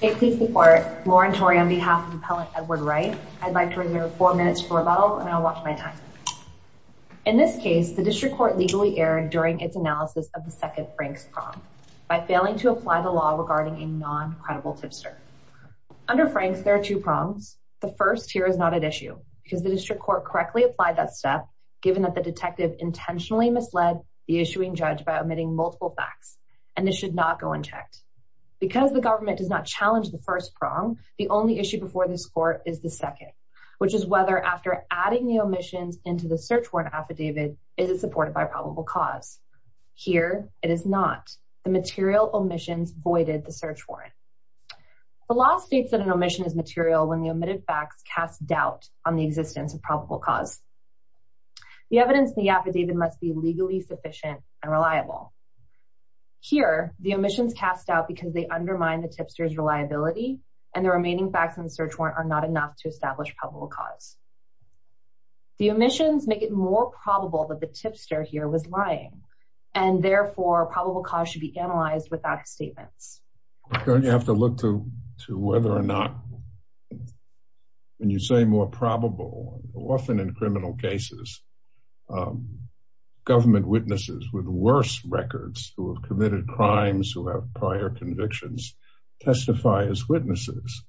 Hey police department, Lauren Tory on behalf of the appellant Edward Wright. I'd like to reserve four minutes for rebuttal and I'll watch my time. In this case the district court legally erred during its analysis of the second Frank's prong by failing to apply the law regarding a non-credible tipster. Under Frank's there are two prongs. The first here is not at issue because the district court correctly applied that step given that the detective intentionally misled the issuing judge by omitting multiple facts and this should not go unchecked. Because the government does not challenge the first prong, the only issue before this court is the second, which is whether after adding the omissions into the search warrant affidavit is it supported by probable cause. Here it is not. The material omissions voided the search warrant. The law states that an omission is material when the omitted facts cast doubt on the existence of probable cause. The evidence in the affidavit must be legally sufficient and reliable. Here the omissions cast out because they undermine the tipster's reliability and the remaining facts in the search warrant are not enough to establish probable cause. The omissions make it more probable that the tipster here was lying and therefore probable cause should be analyzed without statements. You have to look to whether or not when you say more probable, often in criminal cases, government witnesses with worse records who have committed crimes who have prior convictions testify as witnesses.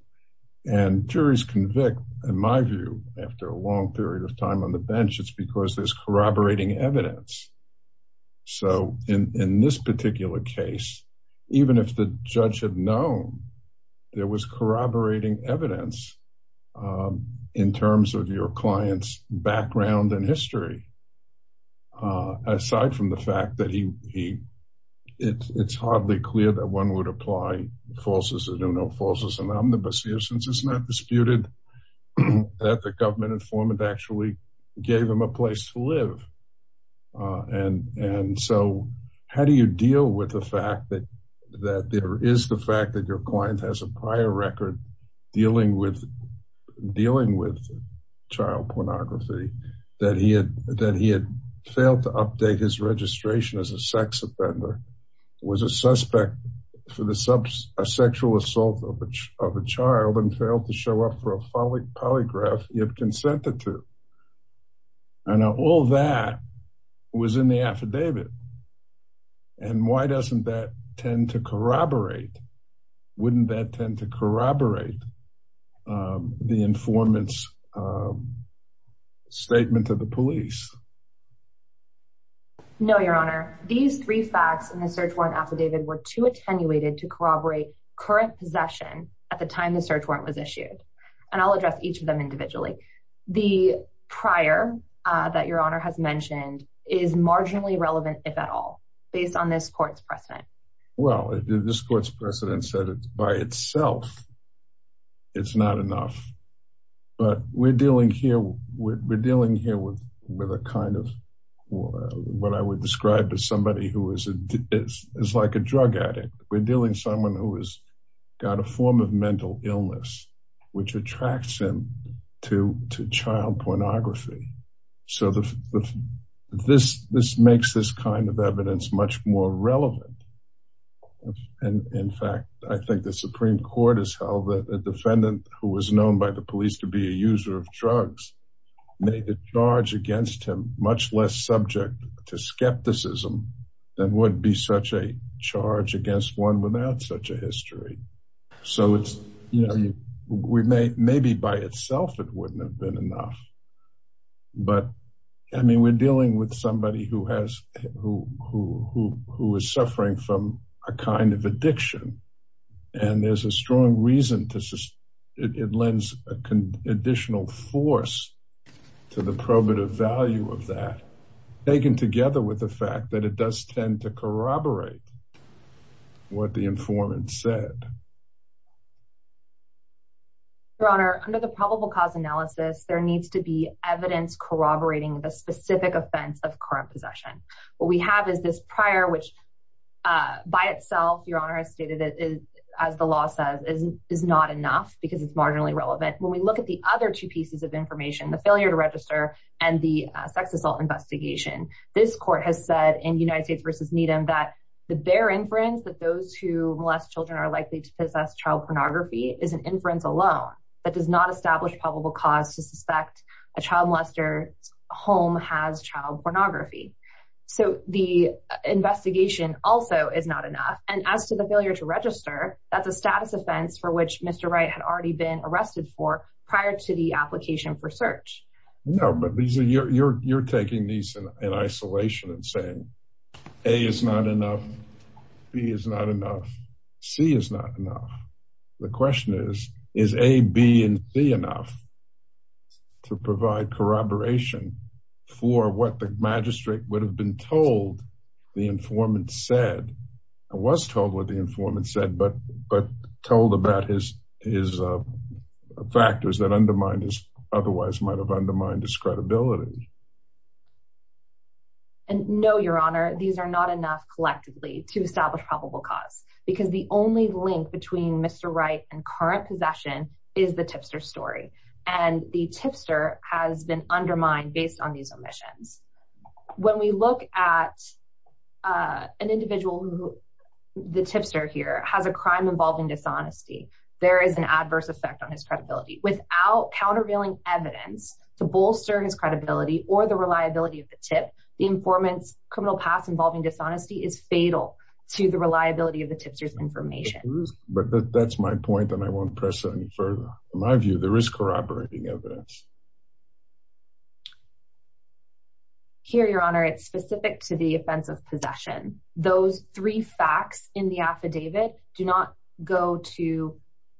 And juries convict, in my view, after a long period of time on the bench, it's because there's corroborating evidence. So in this particular case, even if the judge had known there was corroborating evidence in terms of your client's background and history, aside from the fact that it's hardly clear that one would apply falses that do no falses and omnibus here since it's not disputed that the government informant actually gave him a place to live. And so how do you deal with the fact that that there is the fact that your client has a prior record dealing with dealing with child pornography that he had that he had failed to update his registration as a sex offender, was a suspect for the sexual assault of a child and failed to show up for a polygraph if consented to. And all that was in the affidavit. And why doesn't that tend to corroborate, wouldn't that No, Your Honor, these three facts in the search warrant affidavit were to attenuated to corroborate current possession at the time the search warrant was issued. And I'll address each of them individually. The prior that your honor has mentioned is marginally relevant, if at all, based on this court's precedent. Well, this court's precedent said it by itself. It's not enough. But we're dealing here with a kind of what I would describe to somebody who is like a drug addict, we're dealing someone who has got a form of mental illness, which attracts him to child pornography. So this makes this kind of evidence much more relevant. And in fact, I think the Supreme Court has held that a defendant who was known by the police to be a user of drugs, made a charge against him much less subject to skepticism than would be such a charge against one without such a history. So it's, you know, we may maybe by itself, it wouldn't have been enough. But, I mean, we're dealing with somebody who has, who, who, who, who is suffering from a kind of addiction. And there's a strong reason to, it lends an additional force to the probative value of that, taken together with the fact that it does tend to corroborate what the informant said. Your Honor, under the probable cause analysis, there needs to be evidence corroborating the specific offense of current possession. What we have is this is not enough, because it's marginally relevant. When we look at the other two pieces of information, the failure to register, and the sex assault investigation, this court has said in United States versus Needham, that the bare inference that those who molest children are likely to possess child pornography is an inference alone, that does not establish probable cause to suspect a child molester home has child pornography. So the investigation also is not enough. And as to the failure to register, that's a status offense for which Mr. Wright had already been arrested for prior to the application for search. No, but these are your, you're taking these in isolation and saying, A is not enough. B is not enough. C is not enough. The question is, is A, B and C enough to provide corroboration for what the magistrate would have been told the informant said, but, but told about his, his factors that undermined his otherwise might have undermined his credibility. And no, Your Honor, these are not enough collectively to establish probable cause, because the only link between Mr. Wright and current possession is the tipster story. And the tipster has been undermined based on these omissions. When we look at an individual who the tipster here has a crime involving dishonesty, there is an adverse effect on his credibility without countervailing evidence to bolster his credibility or the reliability of the tip. The informant's criminal past involving dishonesty is fatal to the reliability of the tipsters information. But that's my point. And I won't press it any further. In my view, there is corroborating evidence. Here, Your Honor, it's specific to the offense of possession. Those three facts in the affidavit do not go to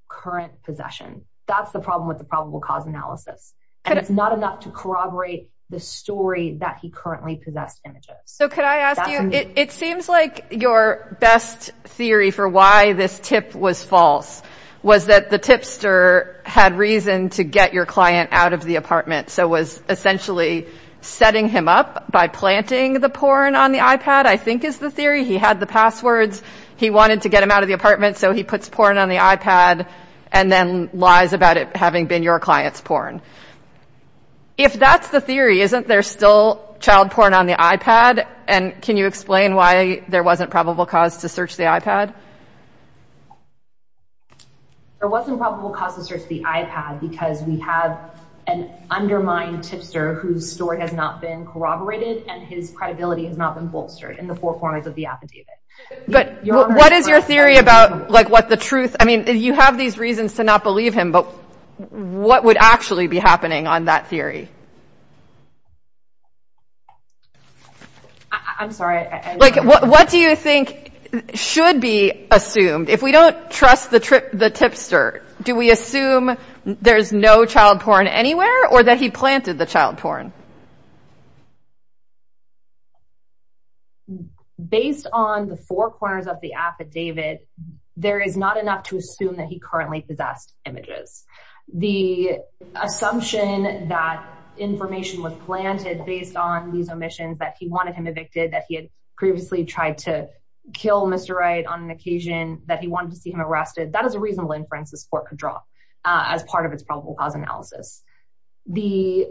current possession. That's the problem with the probable cause analysis. And it's not enough to corroborate the story that he currently possessed images. So could I ask you, it seems like your best theory for why this tip was false, was that the tipster had reason to get your client out of the apartment. So was essentially setting him up by planting the porn on the iPad, I think is the theory. He had the passwords. He wanted to get him out of the apartment. So he puts porn on the iPad and then lies about it having been your client's porn. If that's the theory, isn't there still child porn on the iPad? And can you explain why there wasn't probable cause to search the iPad? There wasn't probable cause to search the iPad because we have an undermined tipster whose story has not been corroborated and his credibility has not been bolstered in the four corners of the affidavit. But what is your theory about like what the truth? I mean, you have these reasons to not believe him, but what would actually be happening on that theory? I'm sorry. Like, what do you think should be assumed if we don't trust the tipster? Do we believe the tipster did the child porn? Based on the four corners of the affidavit, there is not enough to assume that he currently possessed images. The assumption that information was planted based on these omissions that he wanted him evicted, that he had previously tried to kill Mr. Wright on an occasion that he wanted to see him arrested, that is a reasonable inference this court could draw as part of its probable cause analysis. The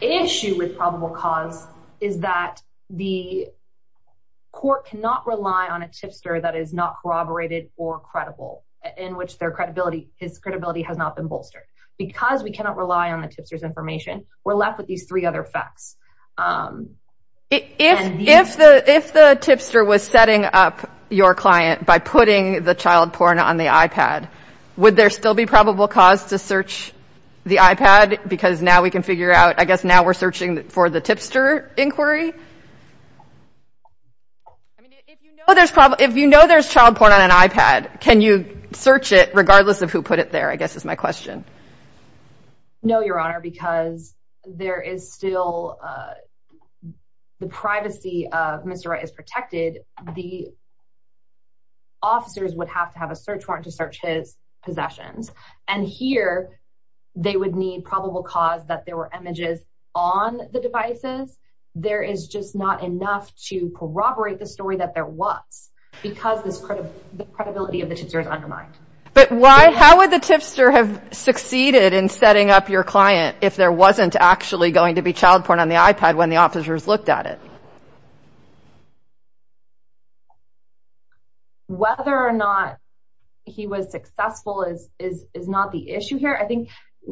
issue with probable cause is that the court cannot rely on a tipster that is not corroborated or credible, in which their credibility, his credibility has not been bolstered. Because we cannot rely on the tipster's information, we're left with these three other facts. If the if the tipster was setting up your client by putting the child porn on the the iPad, because now we can figure out, I guess now we're searching for the tipster inquiry. If you know there's child porn on an iPad, can you search it regardless of who put it there, I guess is my question. No, Your Honor, because there is still the privacy of Mr. Wright is protected, the they would need probable cause that there were images on the devices. There is just not enough to corroborate the story that there was, because this credibility of the tipster is undermined. But why, how would the tipster have succeeded in setting up your client if there wasn't actually going to be child porn on the iPad when the officers looked at it? Whether or not he was successful is is is not the issue here. I think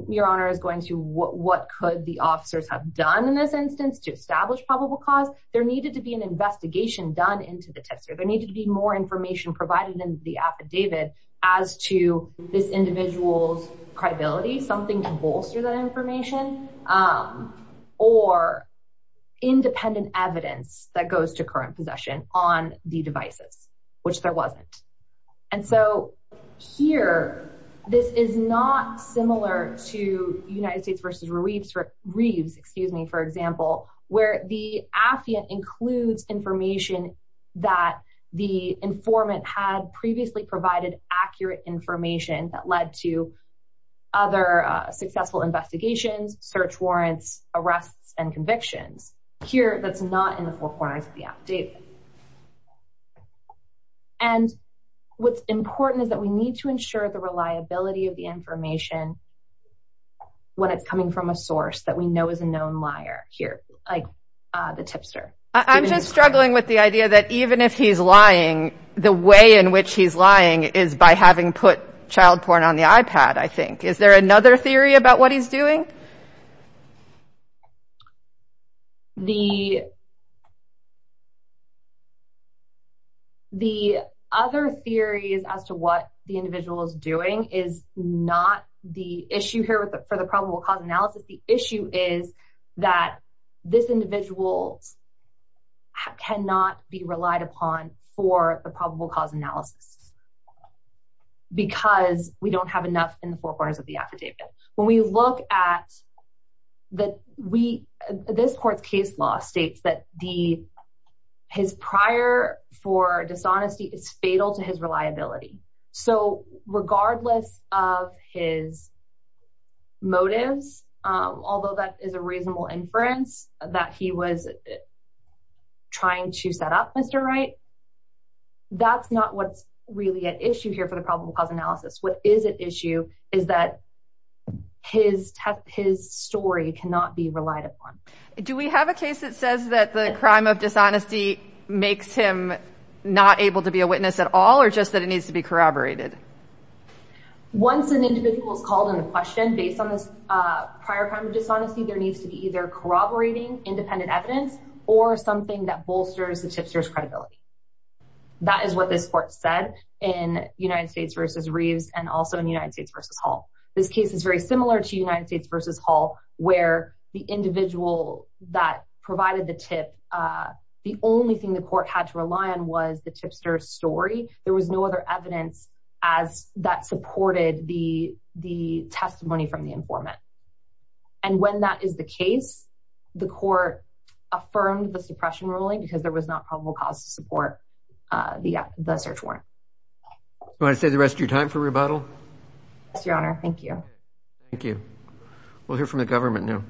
Your Honor is going to what what could the officers have done in this instance to establish probable cause, there needed to be an investigation done into the tipster, there needed to be more information provided in the affidavit as to this individual's credibility, something to bolster that information, or independent evidence that goes to current possession on the devices, which there wasn't. And so here, this is not similar to United States versus Reeves, Reeves, excuse me, for example, where the affidavit includes information that the informant had previously provided accurate information that led to other successful investigations, search warrants, arrests, and convictions here that's not in the four corners of the affidavit. And what's important is that we need to ensure the reliability of the information when it's coming from a source that we know is a known liar here, like the tipster. I'm just struggling with the idea that even if he's lying, the way in which he's lying is by having put child porn on the iPad, I think. Is there another theory about what he's doing? The other theories as to what the individual is doing is not the issue here for the probable cause analysis. The issue is that this individual cannot be relied upon for the probable cause analysis because we don't have enough in the four corners of the affidavit. When we look at that, this court's case law states that his prior for dishonesty is fatal to his reliability. So regardless of his motives, although that is a reasonable inference that he was trying to set up, Mr. Wright, that's not what's really at issue here for the probable cause analysis. What is at issue is that his story cannot be relied upon. Do we have a case that says that the crime of dishonesty makes him not able to be a witness at all or just that it needs to be corroborated? Once an individual is called into question based on this prior crime of dishonesty, there needs to be either corroborating independent evidence or something that bolsters the tipster's credibility. That is what this court said in United States v. Reeves and also in United States v. Hall. This case is very similar to United States v. Hall, where the individual that provided the tip, the only thing the court had to rely on was the tipster's story. There was no other evidence that supported the testimony from the tipster. So if that is the case, the court affirmed the suppression ruling because there was not probable cause to support the search warrant. Do you want to save the rest of your time for rebuttal? Yes, Your Honor. Thank you. Thank you. We'll hear from the government now.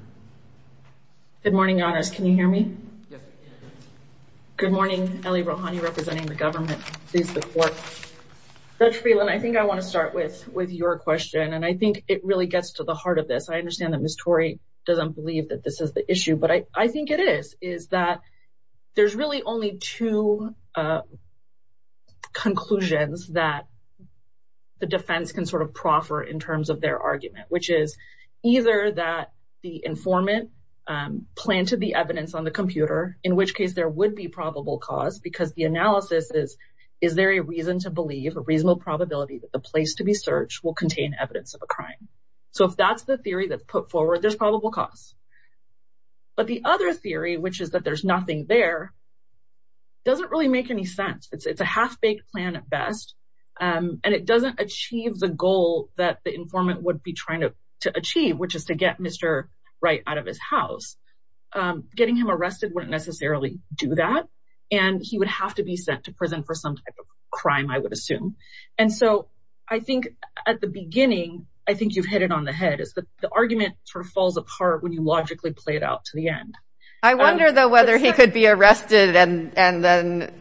Good morning, Your Honors. Can you hear me? Good morning. Ellie Rohani representing the government. Judge Freeland, I think I want to start with your question, and I think it really gets to the heart of this. I understand that Ms. Torrey doesn't believe that this is the issue, but I think it is, is that there's really only two conclusions that the defense can sort of proffer in terms of their argument, which is either that the informant planted the evidence on the computer, in which case there would be probable cause because the analysis is, is there a reason to believe, a reasonable probability that the place to be searched will contain evidence of a crime? So if that's the theory that's put forward, there's probable cause. But the other theory, which is that there's nothing there, doesn't really make any sense. It's a half-baked plan at best, and it doesn't achieve the goal that the informant would be trying to achieve, which is to get Mr. Wright out of his house. Getting him arrested wouldn't necessarily do that, and he would have to be sent to prison for some type of crime, I would assume. And so I think at the beginning, I think you've hit it on the head, is that the argument sort of falls apart when you logically play it out to the end. I wonder, though, whether he could be arrested and then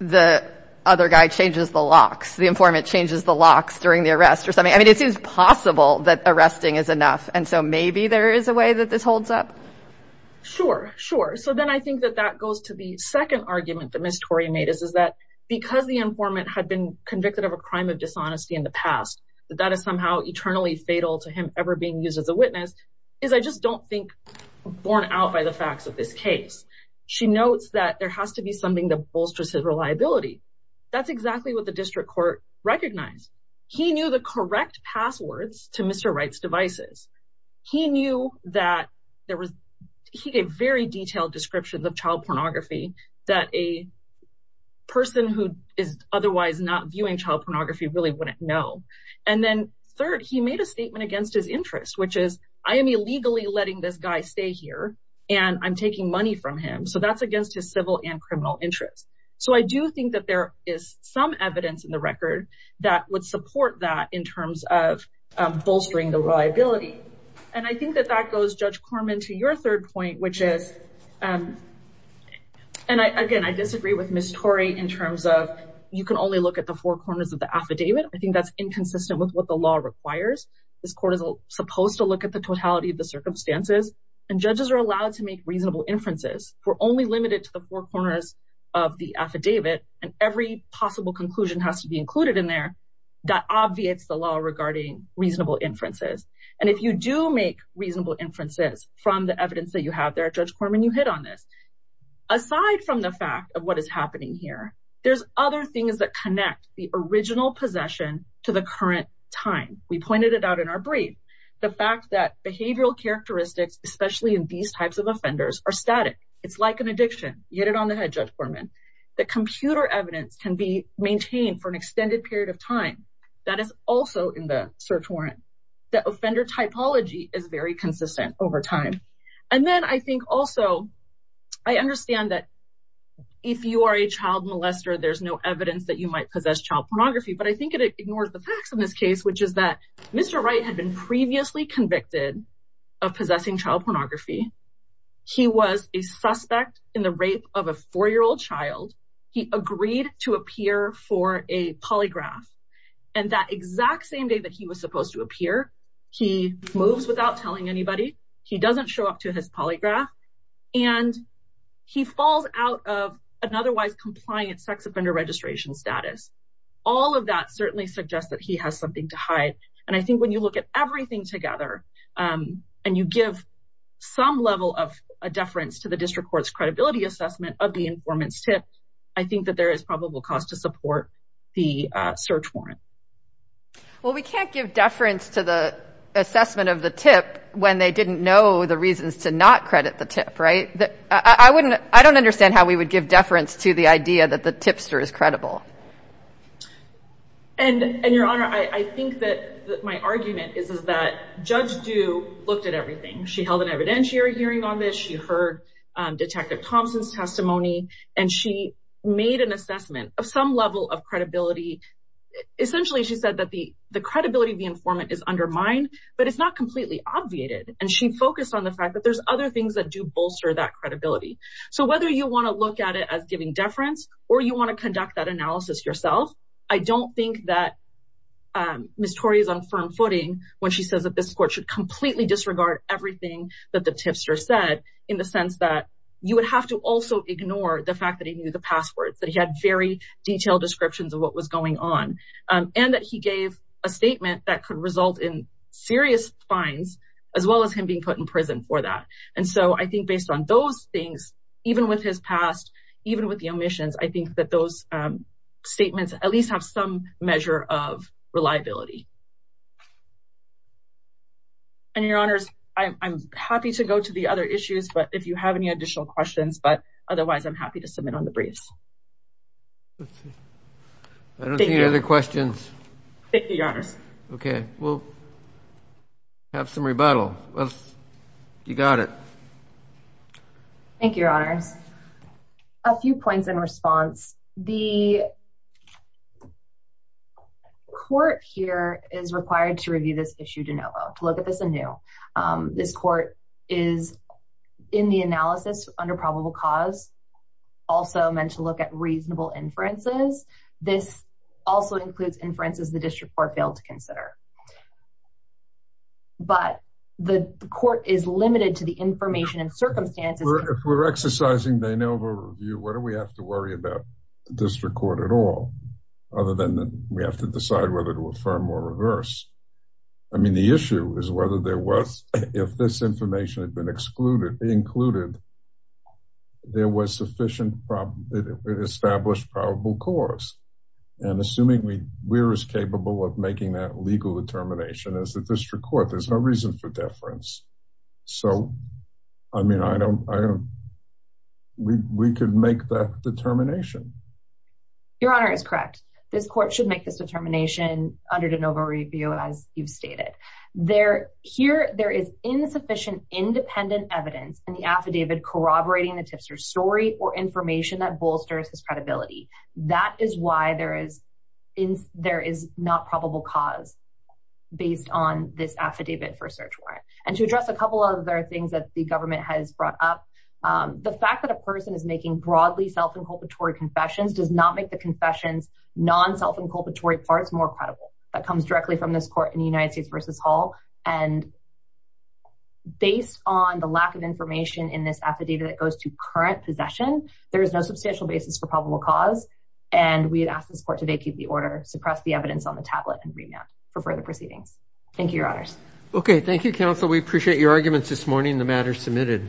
the other guy changes the locks, the informant changes the locks during the arrest or something. I mean, it seems possible that arresting is enough, and so maybe there is a way that this holds up. Sure, sure. So then I think that that goes to the second argument that Ms. Wright's informant had been convicted of a crime of dishonesty in the past, that that is somehow eternally fatal to him ever being used as a witness, is I just don't think born out by the facts of this case. She notes that there has to be something that bolsters his reliability. That's exactly what the district court recognized. He knew the correct passwords to Mr. Wright's devices. He knew that there was he gave very detailed descriptions of child pornography, that a person who is otherwise not viewing child pornography really wouldn't know. And then third, he made a statement against his interest, which is I am illegally letting this guy stay here and I'm taking money from him. So that's against his civil and criminal interests. So I do think that there is some evidence in the record that would support that in terms of bolstering the reliability. And I think that that goes, Judge Corman, to your third point, which is and again, I think in terms of you can only look at the four corners of the affidavit, I think that's inconsistent with what the law requires. This court is supposed to look at the totality of the circumstances and judges are allowed to make reasonable inferences. We're only limited to the four corners of the affidavit and every possible conclusion has to be included in there. That obviates the law regarding reasonable inferences. And if you do make reasonable inferences from the evidence that you have there, Judge Corman, there's other things that connect the original possession to the current time. We pointed it out in our brief. The fact that behavioral characteristics, especially in these types of offenders, are static. It's like an addiction. Get it on the head, Judge Corman. The computer evidence can be maintained for an extended period of time. That is also in the search warrant. The offender typology is very consistent over time. And then I think also I understand that if you are a child molester, there's no evidence that you might possess child pornography. But I think it ignores the facts in this case, which is that Mr. Wright had been previously convicted of possessing child pornography. He was a suspect in the rape of a four year old child. He agreed to appear for a polygraph. And that exact same day that he was supposed to appear, he moves without telling anybody. He doesn't show up to his polygraph and he falls out of an otherwise compliant sex offender registration status. All of that certainly suggests that he has something to hide. And I think when you look at everything together and you give some level of a deference to the district court's credibility assessment of the informant's tip, I think that there is probable cause to support the search warrant. Well, we can't give deference to the assessment of the tip when they didn't know the reasons to not credit the tip. Right. I wouldn't I don't understand how we would give deference to the idea that the tipster is credible. And and Your Honor, I think that my argument is that Judge Dew looked at everything. She held an evidentiary hearing on this. She heard Detective Thompson's testimony and she made an assessment of some level of credibility. Essentially, she said that the the credibility of the informant is undermined, but it's not completely obviated. And she focused on the fact that there's other things that do bolster that credibility. So whether you want to look at it as giving deference or you want to conduct that analysis yourself, I don't think that Miss Torrey is on firm footing when she says that this court should completely disregard everything that the tipster said in the sense that you would have to also ignore the fact that he knew the passwords, that he had very detailed descriptions of what was going on and that he gave a statement that could result in serious fines as well as him being put in prison for that. And so I think based on those things, even with his past, even with the omissions, I think that those statements at least have some measure of reliability. And Your Honors, I'm happy to go to the other issues, but if you have any additional questions, but otherwise I'm happy to submit on the briefs. I don't see any other questions. Thank you, Your Honors. OK, well. Have some rebuttal. You got it. Thank you, Your Honors. A few points in response, the. Court here is required to review this issue to look at this anew. This court is in the analysis under probable cause, also meant to look at reasonable inferences. This also includes inferences the district court failed to consider. But the court is limited to the information and circumstances we're exercising. They know the review. What do we have to worry about the district court at all other than we have to decide whether to affirm or reverse? I mean, the issue is whether there was if this information had been excluded, included. There was sufficient established probable cause and assuming we were as capable of making that legal determination as the district court, there's no reason for deference. So, I mean, I don't. We could make that determination. Your Honor is correct. This court should make this determination under de novo review, as you've stated there corroborating the tipster story or information that bolsters his credibility. That is why there is in there is not probable cause based on this affidavit for search warrant. And to address a couple of other things that the government has brought up, the fact that a person is making broadly self-inculpatory confessions does not make the confessions non-self-inculpatory parts more credible. That comes directly from this court in the United States versus Hall. And based on the lack of information in this affidavit that goes to current possession, there is no substantial basis for probable cause. And we ask this court to vacate the order, suppress the evidence on the tablet and remand for further proceedings. Thank you, Your Honors. Okay. Thank you, counsel. We appreciate your arguments this morning. The matter is submitted.